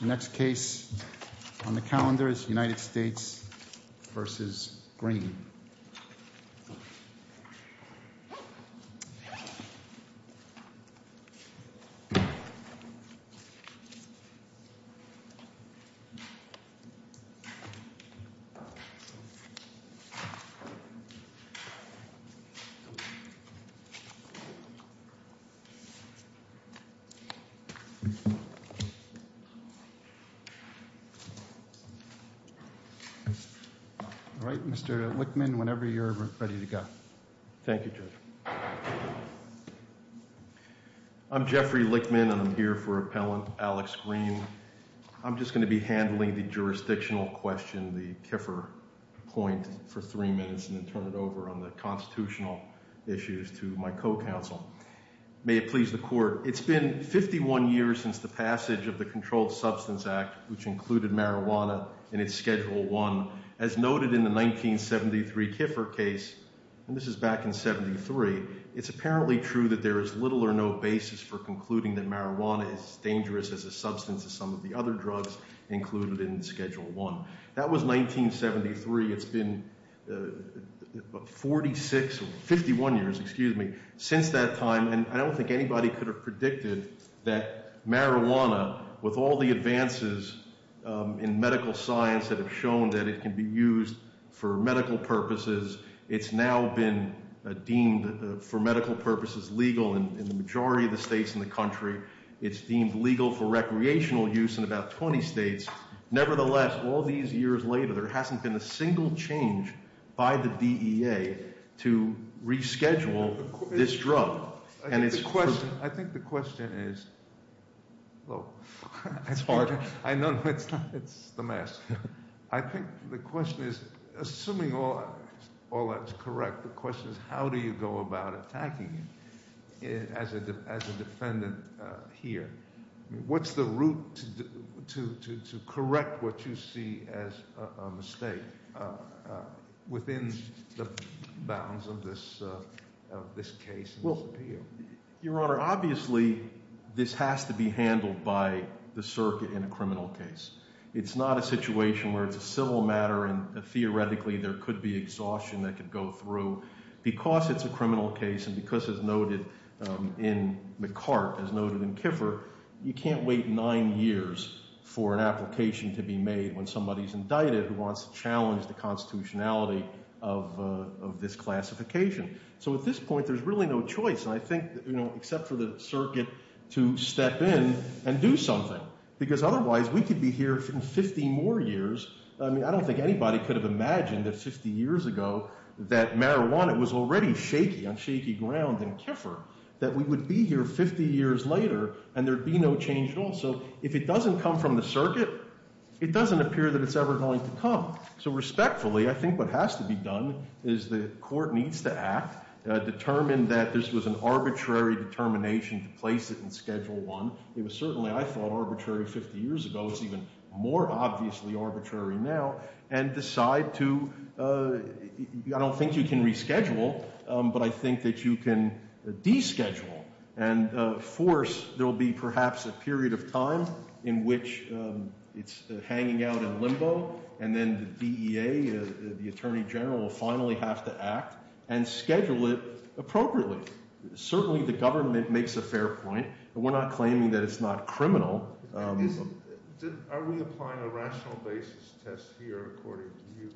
The next case on the calendar is United States v. Green. All right, Mr. Lickman, whenever you're ready to go. Thank you, Judge. I'm Jeffrey Lickman and I'm here for Appellant Alex Green. I'm just going to be handling the jurisdictional question, the Kiffer point, for three minutes and then turn it over on the constitutional issues to my co-counsel. May it please the Court. It's been 51 years since the passage of the Controlled Substance Act, which included marijuana in its Schedule I. As noted in the 1973 Kiffer case, and this is back in 1973, it's apparently true that there is little or no basis for concluding that marijuana is as dangerous as a substance as some of the other drugs included in Schedule I. That was 1973. It's been 46, 51 years, excuse me, since that time, and I don't think anybody could have predicted that marijuana, with all the advances in medical science that have shown that it can be used for medical purposes, it's now been deemed for medical purposes legal in the majority of the states in the country. It's deemed legal for recreational use in about 20 states. Nevertheless, all these years later, there hasn't been a single change by the DEA to reschedule this drug. I think the question is, assuming all that's correct, the question is how do you go about attacking it as a defendant here? What's the route to correct what you see as a mistake within the bounds of this case? Your Honor, obviously this has to be handled by the circuit in a criminal case. It's not a situation where it's a civil matter and theoretically there could be exhaustion that could go through. Because it's a criminal case and because it's noted in McCart as noted in Kiffer, you can't wait nine years for an application to be made when somebody's indicted who wants to challenge the constitutionality of this classification. So at this point, there's really no choice, I think, except for the circuit to step in and do something. Because otherwise, we could be here in 50 more years, I mean, I don't think anybody could have imagined that 50 years ago that marijuana was already shaky on shaky ground in Kiffer, that we would be here 50 years later and there'd be no change at all. So if it doesn't come from the circuit, it doesn't appear that it's ever going to come. So respectfully, I think what has to be done is the court needs to act, determine that this was an arbitrary determination to place it in Schedule I. It was certainly, I thought, arbitrary 50 years ago, it's even more obviously arbitrary now, and decide to, I don't think you can reschedule, but I think that you can deschedule and force, there will be perhaps a period of time in which it's hanging out in limbo and then the DEA, the Attorney General, will finally have to act and schedule it appropriately. Certainly the government makes a fair point, but we're not claiming that it's not criminal. Are we applying a rational basis test here according to you?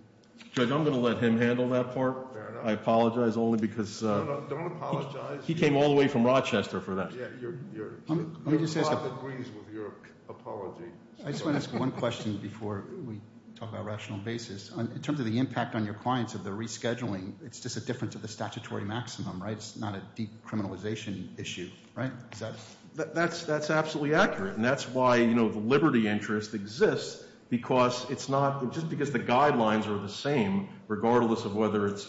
Judge, I'm going to let him handle that part. I apologize only because he came all the way from Rochester for that. I just want to ask one question before we talk about rational basis. In terms of the impact on your clients of the rescheduling, it's just a difference of the statutory maximum, right? It's not a decriminalization issue, right? That's absolutely accurate, and that's why the liberty interest exists, because it's not, just because the guidelines are the same, regardless of whether it's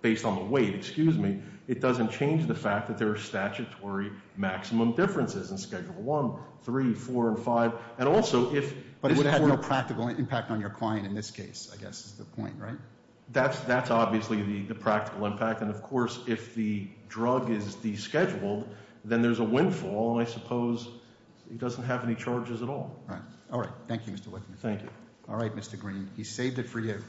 based on the weight, it doesn't change the fact that there are statutory maximum differences in Schedule I, III, IV, and V. But it would have no practical impact on your client in this case, I guess is the point, right? That's obviously the practical impact, and of course if the drug is descheduled, then there's a windfall, and I suppose it doesn't have any charges at all. Right. All right. Thank you, Mr. Lichtman. Thank you. All right, Mr. Green. He saved it for you.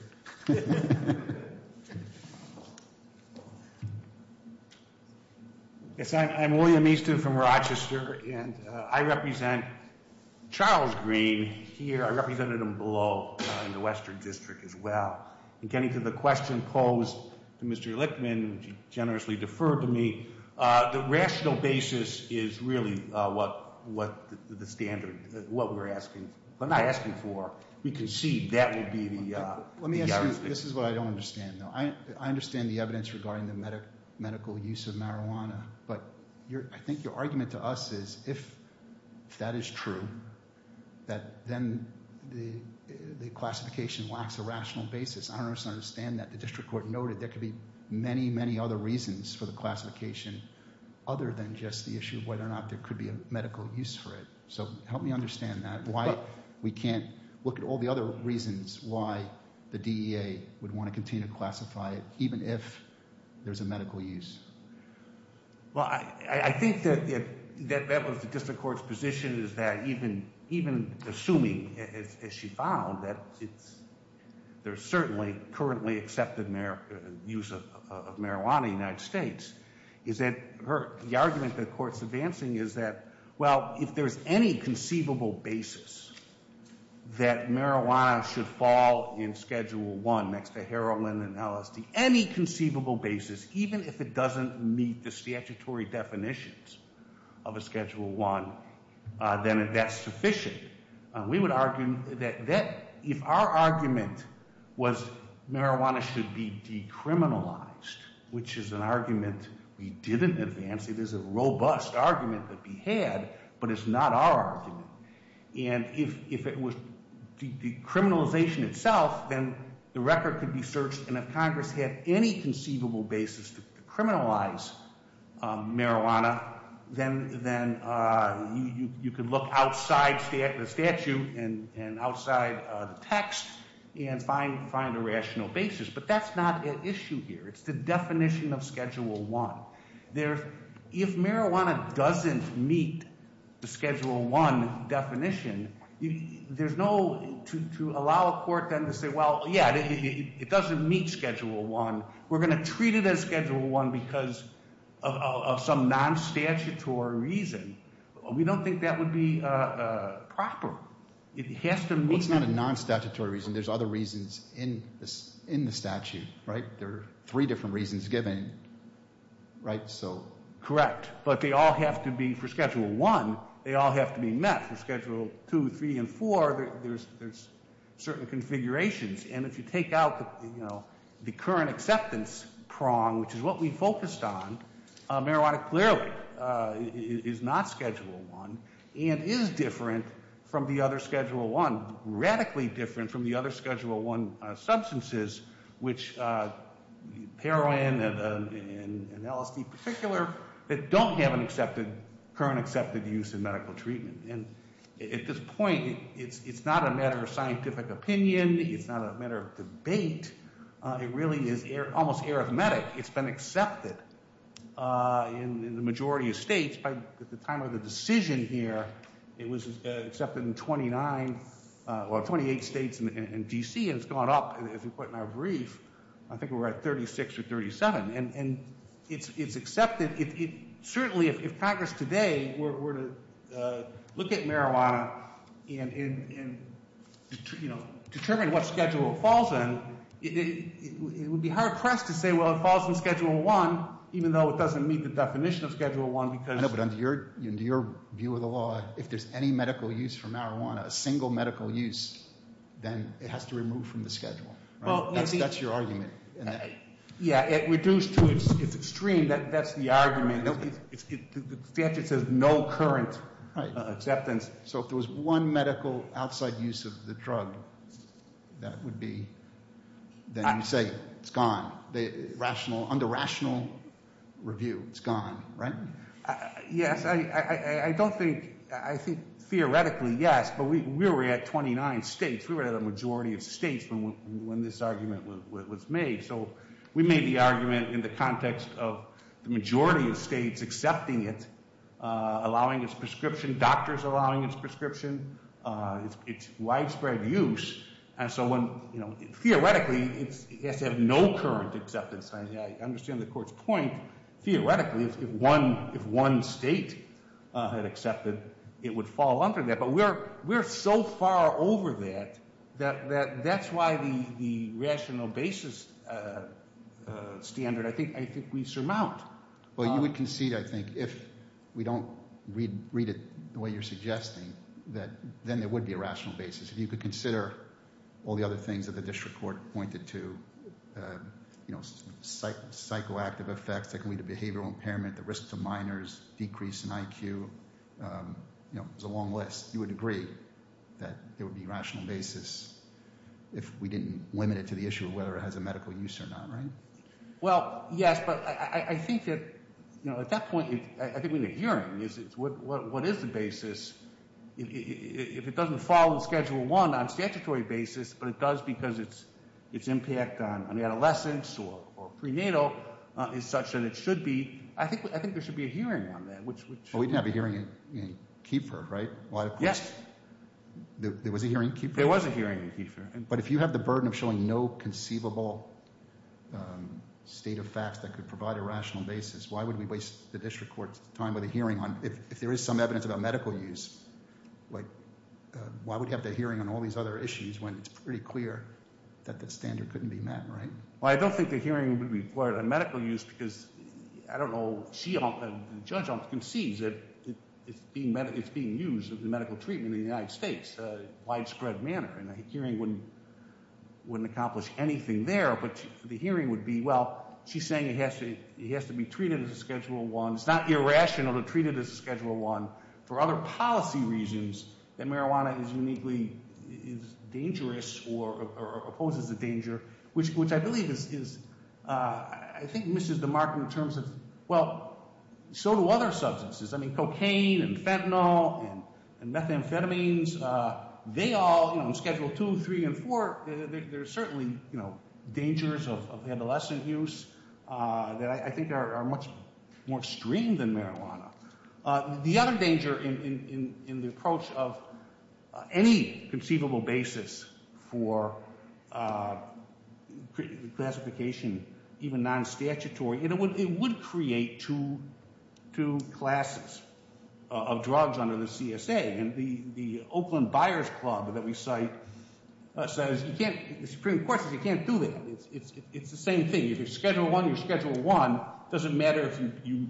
Yes, I'm William Easton from Rochester, and I represent Charles Green here. I represented him below in the Western District as well. In getting to the question posed to Mr. Lichtman, which he generously deferred to me, the rational basis is really what the standard, what we're asking, we're not asking for, we concede that would be the argument. Let me ask you, this is what I don't understand, though. I understand the evidence regarding the medical use of marijuana, but I think your argument to us is, if that is true, that then the classification lacks a rational basis. I don't understand that. The District Court noted there could be many, many other reasons for the classification other than just the issue of whether or not there could be a medical use for it. So help me understand that, why we can't look at all the other reasons why the DEA would want to continue to classify it, even if there's a medical use. Well, I think that that was the District Court's position, is that even assuming, as she found, that there's certainly currently accepted use of marijuana in the United States, is that the argument the Court's advancing is that, well, if there's any conceivable basis that marijuana should fall in Schedule I, next to heroin and LSD, any conceivable basis, even if it doesn't meet the statutory definitions of a Schedule I, then that's sufficient. We would argue that if our argument was marijuana should be decriminalized, which is an argument we didn't advance, it is a robust argument that we had, but it's not our argument, and if it was decriminalization itself, then the record could be searched, and if Congress had any conceivable basis to criminalize marijuana, then you could look outside the statute and outside the text and find a rational basis, but that's not at issue here. It's the definition of Schedule I. If marijuana doesn't meet the Schedule I definition, to allow a court then to say, well, yeah, it doesn't meet Schedule I, we're going to treat it as Schedule I because of some non-statutory reason, we don't think that would be proper. It has to meet... Well, it's not a non-statutory reason. There's other reasons in the statute, right? There are three different reasons given, right? Correct, but they all have to be, for Schedule I, they all have to be met. For Schedule II, III, and IV, there's certain configurations, and if you take out the current acceptance prong, which is what we focused on, marijuana clearly is not Schedule I and is different from the other Schedule I, radically different from the other Schedule I substances, which heroin and LSD in particular, that don't have an accepted... current accepted use in medical treatment. And at this point, it's not a matter of scientific opinion, it's not a matter of debate, it really is almost arithmetic. It's been accepted in the majority of states. By the time of the decision here, it was accepted in 29... well, 28 states and D.C., and it's gone up, as we put in our brief, I think we're at 36 or 37. And it's accepted. Certainly, if Congress today were to look at marijuana and, you know, determine what Schedule it falls in, it would be hard-pressed to say, well, it falls in Schedule I, even though it doesn't meet the definition of Schedule I, because... No, but under your view of the law, if there's any medical use for marijuana, a single medical use, then it has to remove from the Schedule, right? That's your argument. Yeah, reduced to its extreme, that's the argument. The statute says no current acceptance. Right. So if there was one medical outside use of the drug, that would be... then you say it's gone. Under rational review, it's gone, right? Yes, I don't think... I think, theoretically, yes, but we were at 29 states, we were at a majority of states when this argument was made. So we made the argument in the context of the majority of states accepting it, allowing its prescription, doctors allowing its prescription, its widespread use, and so when, you know, theoretically, it has to have no current acceptance. I understand the court's point. Theoretically, if one state had accepted, it would fall under that, but we're so far over that that that's why the rational basis standard, I think, we surmount. Well, you would concede, I think, if we don't read it the way you're suggesting, then there would be a rational basis. If you could consider all the other things that the district court pointed to, you know, psychoactive effects, that can lead to behavioral impairment, the risk to minors, decrease in IQ, you know, it's a long list. You would agree that there would be a rational basis if we didn't limit it to the issue of whether it has a medical use or not, right? Well, yes, but I think that, you know, at that point, I think we need a hearing. What is the basis? If it doesn't fall in Schedule I on a statutory basis, but it does because its impact on adolescents or prenatal is such that it should be, I think there should be a hearing on that, which... Well, we didn't have a hearing in Kiefer, right? Yes. There was a hearing in Kiefer? There was a hearing in Kiefer. But if you have the burden of showing no conceivable state of facts that could provide a rational basis, why would we waste the district court's time with a hearing if there is some evidence about medical use? Like, why would you have that hearing on all these other issues when it's pretty clear that that standard couldn't be met, right? Well, I don't think the hearing would be required on medical use because, I don't know, the judge concedes that it's being used in medical treatment in the United States in a widespread manner, and a hearing wouldn't accomplish anything there. But the hearing would be, well, she's saying it has to be treated as a Schedule I. It's not irrational to treat it as a Schedule I for other policy reasons that marijuana is uniquely... is dangerous or opposes the danger, which I believe is... I think misses the mark in terms of... Well, so do other substances. I mean, cocaine and fentanyl and methamphetamines, they all, you know, in Schedule II, III, and IV, there are certainly, you know, dangers of adolescent use that I think are much more extreme than marijuana. The other danger in the approach of any conceivable basis for classification, even non-statutory, it would create two classes of drugs under the CSA. And the Oakland Buyers Club that we cite says you can't... The Supreme Court says you can't do that. It's the same thing. If you're Schedule I, you're Schedule I. Doesn't matter if you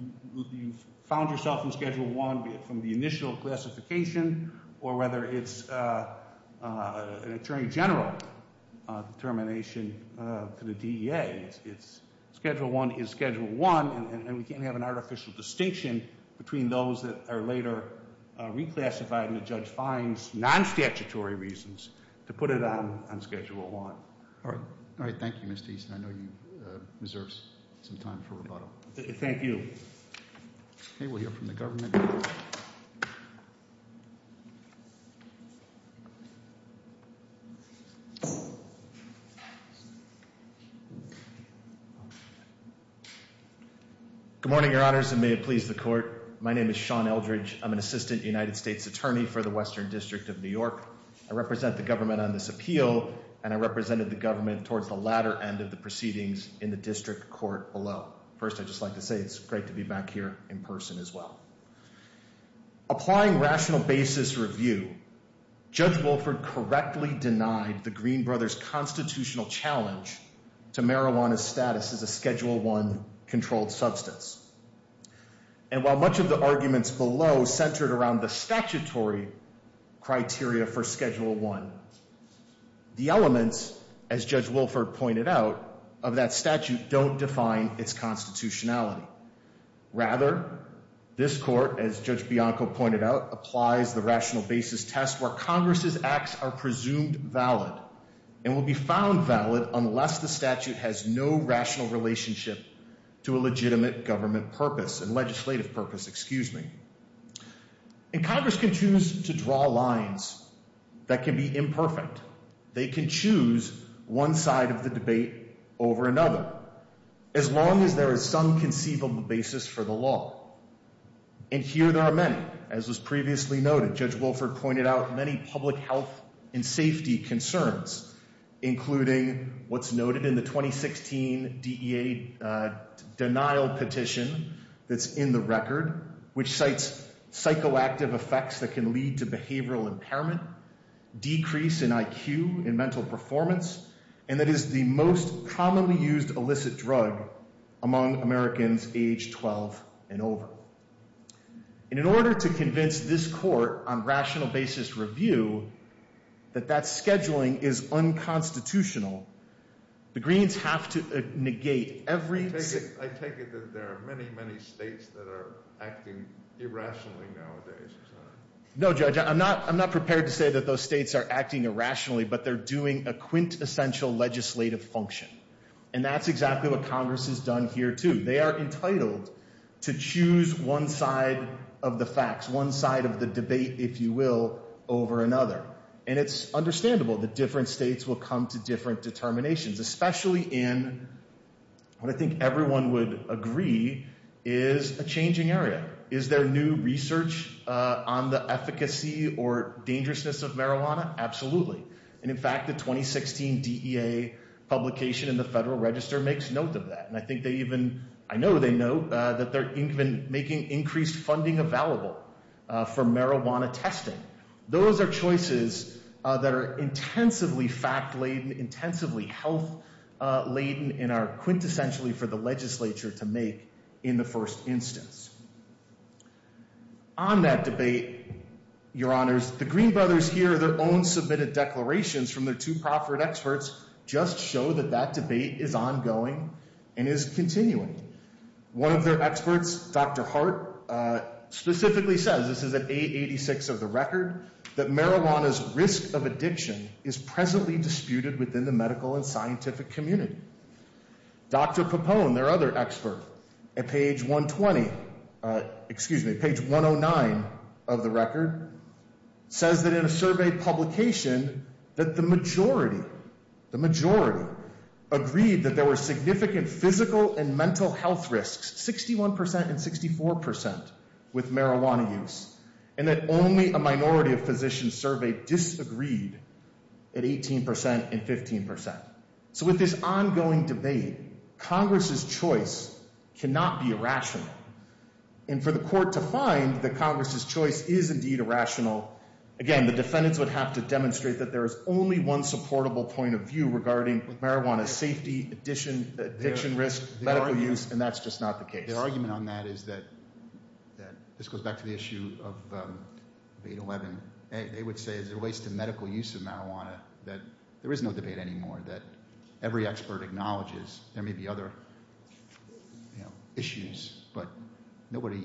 found yourself in Schedule I from the initial classification or whether it's an attorney general determination to the DEA. Schedule I is Schedule I, and we can't have an artificial distinction between those that are later reclassified and the judge finds non-statutory reasons to put it on Schedule I. All right, thank you, Mr. Easton. I know he deserves some time for rebuttal. Thank you. Okay, we'll hear from the government. Good morning, Your Honors, and may it please the court. My name is Sean Eldridge. I'm an assistant United States attorney for the Western District of New York. I represent the government on this appeal, and I represented the government towards the latter end of the proceedings in the district court below. First, I'd just like to say it's great to be back here in person as well. Applying rational basis review, Judge Wolford correctly denied the Green Brothers' constitutional challenge to marijuana's status as a Schedule I-controlled substance. And while much of the arguments below centered around the statutory criteria for Schedule I, the elements, as Judge Wolford pointed out, of that statute don't define its constitutionality. Rather, this court, as Judge Bianco pointed out, applies the rational basis test where Congress's acts are presumed valid and will be found valid unless the statute has no rational relationship to a legitimate government purpose and legislative purpose, excuse me. And Congress can choose to draw lines that can be imperfect. They can choose one side of the debate over another as long as there is some conceivable basis for the law. And here there are many. As was previously noted, Judge Wolford pointed out many public health and safety concerns, including what's noted in the 2016 DEA denial petition that's in the record, which cites psychoactive effects that can lead to behavioral impairment, decrease in IQ and mental performance, and that is the most commonly used illicit drug among Americans age 12 and over. And in order to convince this court on rational basis review that that scheduling is unconstitutional, the Greens have to negate every... I take it that there are many, many states that are acting irrationally nowadays. No, Judge, I'm not prepared to say that those states are acting irrationally, but they're doing a quintessential legislative function. And that's exactly what Congress has done here, too. They are entitled to choose one side of the facts, one side of the debate, if you will, over another. And it's understandable that different states will come to different determinations, especially in what I think everyone would agree is a changing area. Is there new research on the efficacy or dangerousness of marijuana? Absolutely. And in fact, the 2016 DEA publication in the Federal Register makes note of that. And I think they even... I know they note that they're even making increased funding available for marijuana testing. Those are choices that are intensively fact-laden, intensively health-laden, and are quintessentially for the legislature to make in the first instance. On that debate, Your Honors, the Green brothers here, their own submitted declarations from their two proffered experts, just show that that debate is ongoing and is continuing. One of their experts, Dr. Hart, specifically says, this is at 886 of the record, that marijuana's risk of addiction is presently disputed within the medical and scientific community. Dr. Pappone, their other expert, at page 120... Excuse me, page 109 of the record, says that in a survey publication that the majority, the majority, agreed that there were significant physical and mental health risks, 61% and 64% with marijuana use, and that only a minority of physicians surveyed disagreed at 18% and 15%. So with this ongoing debate, Congress's choice cannot be irrational. And for the court to find that Congress's choice is indeed irrational, again, the defendants would have to demonstrate that there is only one supportable point of view regarding marijuana's safety, addiction risk, medical use, and that's just not the case. Their argument on that is that... This goes back to the issue of 811. They would say, as it relates to medical use of marijuana, that there is no debate anymore, that every expert acknowledges there may be other, you know, issues, but nobody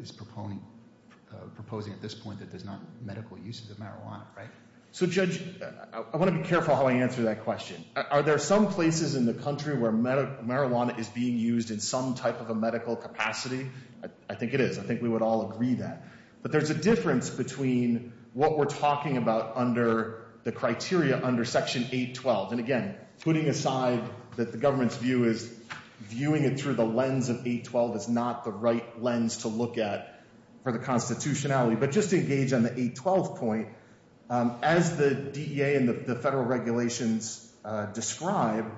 is proposing at this point that there's not medical use of the marijuana, right? So, Judge, I want to be careful how I answer that question. Are there some places in the country where marijuana is being used in some type of a medical capacity? I think it is. I think we would all agree that. But there's a difference between what we're talking about under the criteria under Section 812. And again, putting aside that the government's view is viewing it through the lens of 812 is not the right lens to look at for the constitutionality. But just to engage on the 812 point, as the DEA and the federal regulations describe,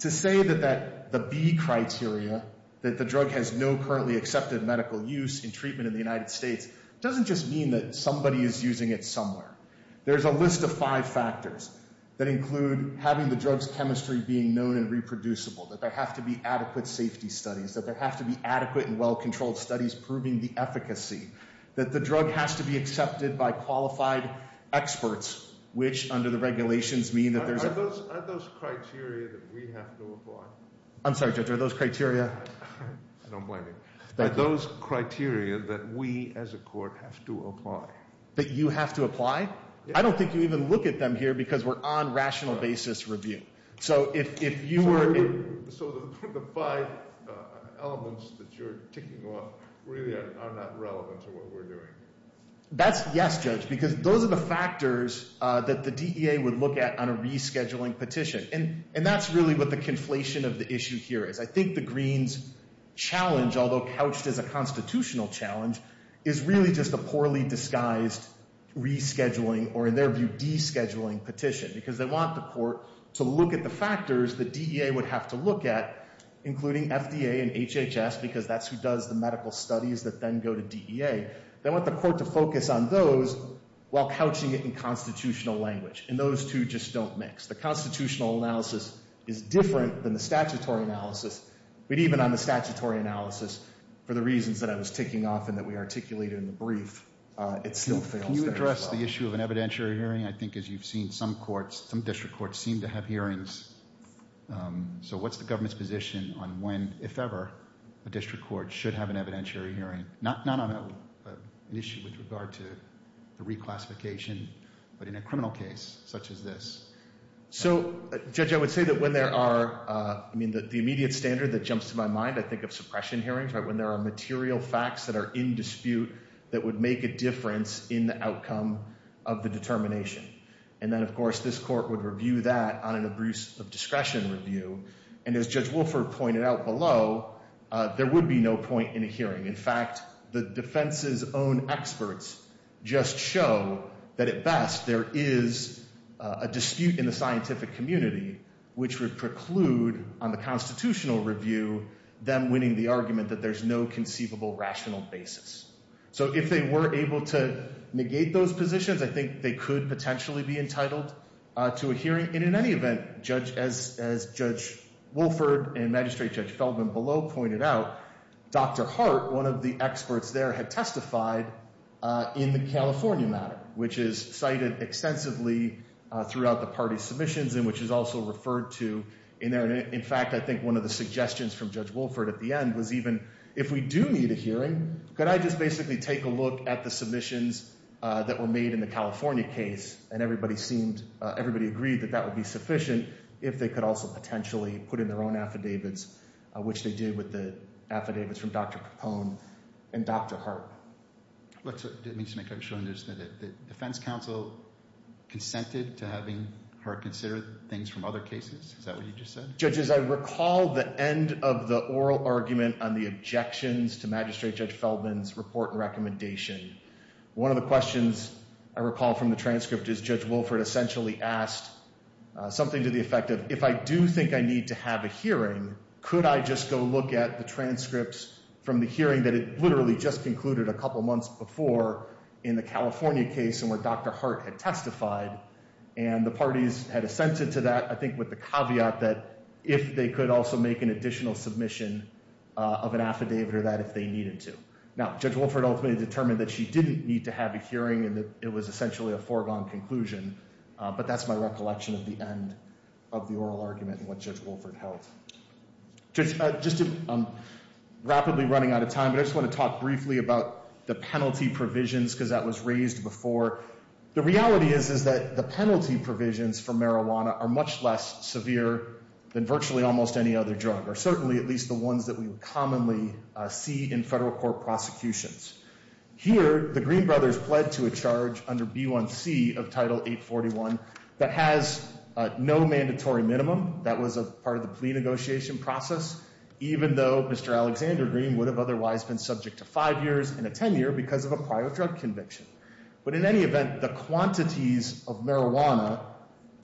to say that the B criteria, that the drug has no currently accepted medical use in treatment in the United States, doesn't just mean that somebody is using it somewhere. There's a list of five factors that include having the drug's chemistry being known and reproducible, that there have to be adequate safety studies, that there have to be adequate and well-controlled studies proving the efficacy, that the drug has to be accepted by qualified experts, which, under the regulations, mean that there's a... Are those criteria that we have to apply? I'm sorry, Judge, are those criteria... I don't blame you. Are those criteria that we, as a court, have to apply? That you have to apply? I don't think you even look at them here because we're on rational basis review. So if you were... So the five elements that you're ticking off really are not relevant to what we're doing. That's... Yes, Judge, because those are the factors that the DEA would look at on a rescheduling petition. And that's really what the conflation of the issue here is. I think the Greens' challenge, although couched as a constitutional challenge, is really just a poorly disguised rescheduling or, in their view, descheduling petition because they want the court to look at the factors that DEA would have to look at, including FDA and HHS because that's who does the medical studies that then go to DEA. They want the court to focus on those while couching it in constitutional language. And those two just don't mix. The constitutional analysis is different than the statutory analysis. But even on the statutory analysis, for the reasons that I was ticking off and that we articulated in the brief, it still fails there as well. Can you address the issue of an evidentiary hearing? I think, as you've seen, some courts, some district courts, seem to have hearings. So what's the government's position on when, if ever, a district court should have an evidentiary hearing? Not on an issue with regard to the reclassification, but in a criminal case, such as this. So, Judge, I would say that when there are the immediate standard that jumps to my mind, I think of suppression hearings, when there are material facts that are in dispute that would make a difference in the outcome of the determination. And then, of course, this court would review that on an abuse of discretion review. And as Judge Wolford pointed out below, there would be no point in a hearing. In fact, the defense's own experts just show that, at best, there is a dispute in the scientific community which would preclude on the constitutional review them winning the argument that there's no conceivable rational basis. So, if they were able to negate those positions, I think they could potentially be entitled to a hearing. And in any event, as Judge Wolford and Magistrate Judge Feldman below pointed out, Dr. Hart, one of the experts there, had testified in the California matter, which is cited extensively throughout the party's submissions and which is also referred to in there. In fact, I think one of the suggestions from Judge Wolford at the end was even if we do need a hearing, could I just basically take a look at the submissions that were made in the California case, and everybody agreed that that would be sufficient if they could also potentially put in their own affidavits, which they did with the affidavits from Dr. Capone and Dr. Hart. Let me just make sure I understand it. The defense counsel consented to having Hart consider things from other cases? Is that what you just said? Judge, as I recall, the end of the oral argument on the objections to Magistrate Judge Feldman's report and recommendation, one of the questions I recall from the transcript is Judge Wolford essentially asked something to the effect of if I do think I need to have a hearing, could I just go look at the transcripts from the hearing that it literally just concluded a couple months before in the California case where Dr. Hart had testified and the parties had assented to that, I think with the caveat that if they could also make an additional submission of an affidavit or that if they needed to. Now, Judge Wolford ultimately determined that she didn't need to have a hearing and that it was essentially a foregone conclusion, but that's my recollection of the end of the oral argument and what Judge Wolford held. Just to rapidly running out of time, I just want to talk briefly about the penalty provisions because that was raised before. The reality is that the penalty provisions for marijuana are much less severe than virtually almost any other drug, or certainly at least the ones that we would commonly see in federal court prosecutions. Here, the Green Brothers pled to a charge under B1C of Title 841 that has no mandatory minimum. That was a part of the plea negotiation process, even though Mr. Alexander Green would have otherwise been subject to 5 years and a 10 year because of a prior drug conviction. But in any event, the quantities of marijuana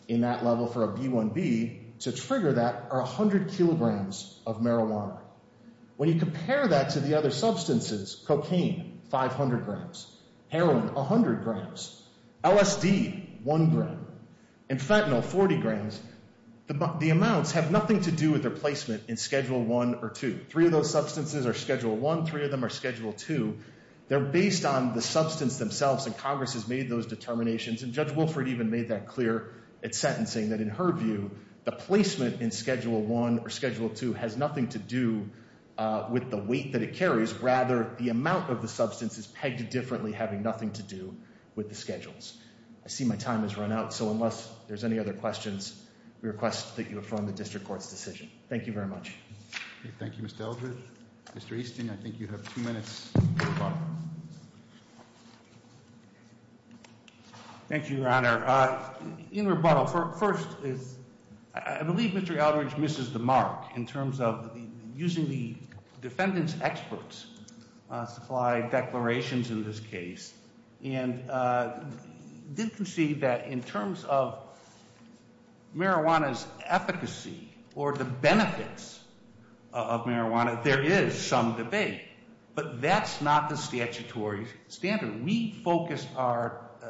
that are eligible for a B1B to trigger that are 100 kilograms of marijuana. When you compare that to the other substances, cocaine, 500 grams, heroin, 100 grams, LSD, 1 gram, and fentanyl, 40 grams, the amounts have nothing to do with their placement in Schedule 1 or 2. Three of those substances are Schedule 1, three of them are Schedule 2. They're based on the substance themselves and Congress has made those determinations and Judge Wilfred even made that clear at sentencing that in her view, the placement in Schedule 1 or Schedule 2 has nothing to do with the weight that it carries, rather the amount of the substance is pegged differently, having nothing to do with the schedules. I see my time has run out, so unless there's any other questions, we request that you affirm the district court's decision. Thank you very much. Thank you, Mr. Eldridge. Mr. Easton, I think you have two minutes. Thank you, Your Honor. In rebuttal, first, I believe Mr. Eldridge misses the mark in terms of using the defendant's experts to supply declarations in this case and did concede that in terms of marijuana's efficacy or the benefits of marijuana, there is some debate, but that's not the statutory standard. We have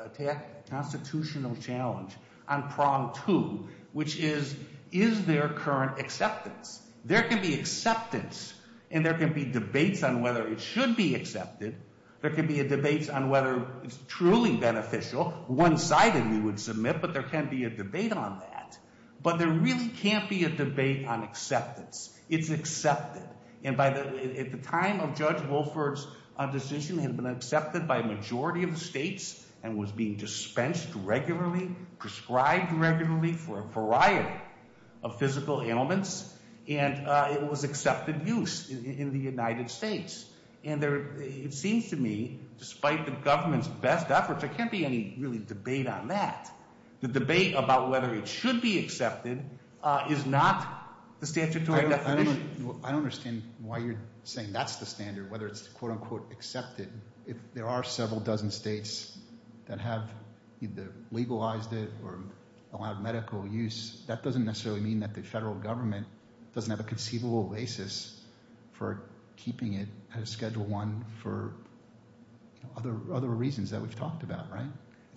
a constitutional challenge on Prong 2, which is is there current acceptance? There can be acceptance and there can be debates on whether it should be accepted. There can be debates on whether it's truly beneficial. One-sided, we would submit, but there can be a debate on that. But there really can't be a debate on acceptance. It's accepted. And at the time of Judge Wolford's decision, it had been accepted by a majority of the states and was being dispensed regularly, prescribed regularly for a variety of physical ailments and it was accepted use in the United States. And it seems to me despite the government's best efforts, there can't be any debate on that. The debate about whether it should be accepted is not the statutory definition. I don't understand why you're saying that's the standard, whether it's quote-unquote accepted. If there are several dozen states that have either legalized it or allowed medical use, that doesn't necessarily mean that the federal government doesn't have a conceivable basis for keeping it at a Schedule I for other reasons that we've talked about, right?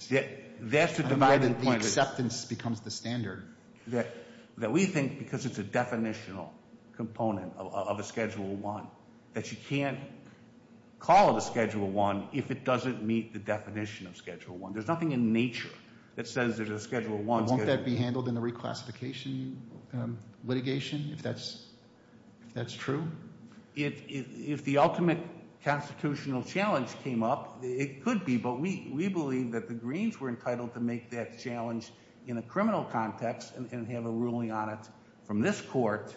The acceptance becomes the standard. That we think because it's a definitional component of a Schedule I that you can't call it a Schedule I if it doesn't meet the definition of Schedule I. There's nothing in nature that says there's a Schedule I. Won't that be handled in the reclassification litigation if that's true? If the ultimate constitutional challenge came up, it could be, but we believe that the Greens were entitled to make that challenge in a criminal context and have a ruling on it from this court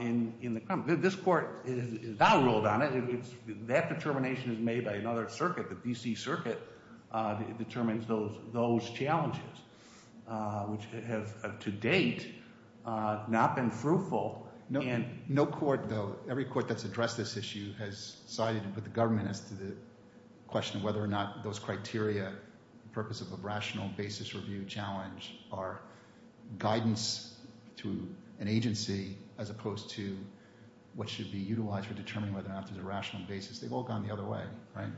in the crime. This court has now ruled on it. That determination is made by another circuit, the D.C. Circuit, determines those challenges which have to date not been fruitful. No court though, every court that's addressed this issue has sided with the government as to the question of whether or not those criteria for the purpose of a rational basis review challenge are guidance to an agency as opposed to what should be utilized for determining whether or not there's a rational basis. They've all gone the other way, right?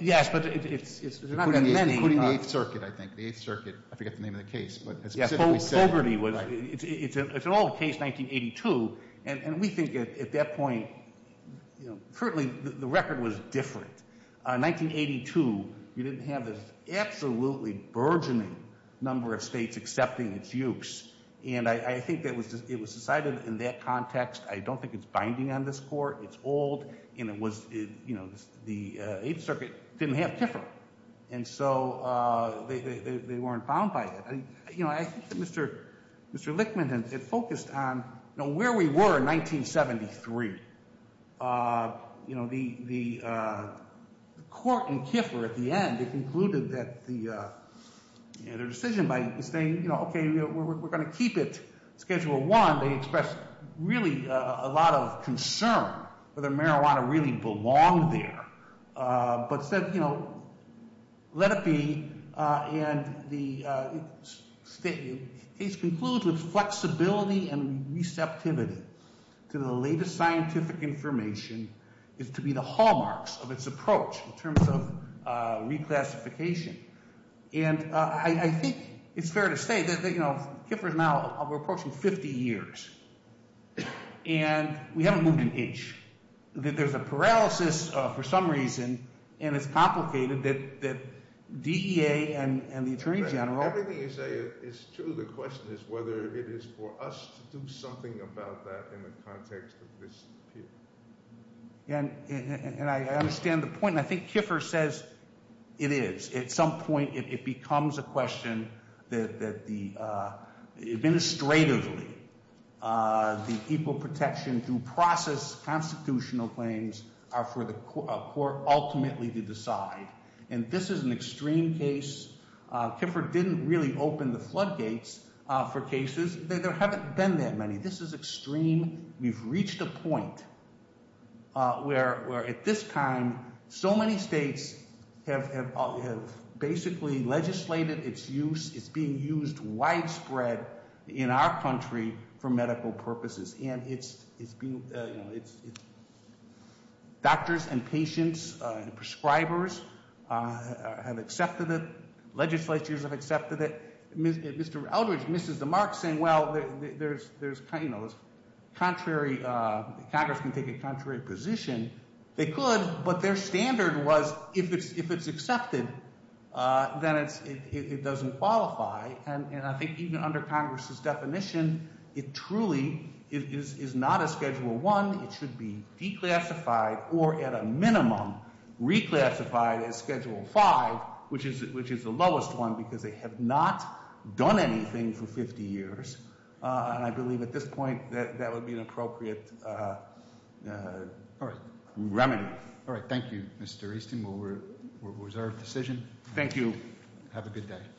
Yes, but there's not that many. Including the 8th Circuit, I think. The 8th Circuit. I forget the name of the case, but it's specifically said. Colberti, it's an old case, 1982, and we think at that point currently the record was different. 1982 you didn't have this absolutely burgeoning number of states accepting its use and I think it was decided in that context. I don't think it's binding on this Court. It's old and it was, you know, the 8th Circuit didn't have Kiffer and so they weren't bound by it. You know, I think that Mr. Lichtman focused on where we were in 1973. You know, the court in Kiffer at the end, they concluded that their decision by saying, you know, okay, we're going to keep it Schedule I. They expressed really a lot of concern whether marijuana really belonged there but said, you know, let it be and the case concludes with flexibility and receptivity to the latest scientific information is to be the hallmarks of its approach in terms of declassification and I think it's fair to say that, you know, Kiffer is now approaching 50 years and we haven't moved an inch. There's a paralysis for some reason and it's complicated that DEA and the Attorney General Everything you say is true. The question is whether it is for us to do something about that in the context of this appeal. And I understand the point and I think Kiffer says it is. At some point it becomes a question that the administratively the equal protection through process constitutional claims are for the court ultimately to decide and this is an extreme case Kiffer didn't really open the floodgates for cases. There haven't been that many. This is extreme. We've reached a point where at this time so many states have basically legislated its use. It's being used widespread in our country for medical purposes and it's doctors and patients and prescribers have accepted it. Legislatures have accepted it. Mr. Eldridge misses the mark saying well there's contrary Congress can take a contrary position they could but their standard was if it's accepted then it doesn't qualify and I think even under Congress' definition it truly is not a Schedule I. It should be declassified or at a minimum reclassified as Schedule V which is the lowest one because they have not done anything for 50 years and I believe at this point that would be an appropriate remedy. Thank you Mr. Easton it was our decision. Thank you. Have a good day.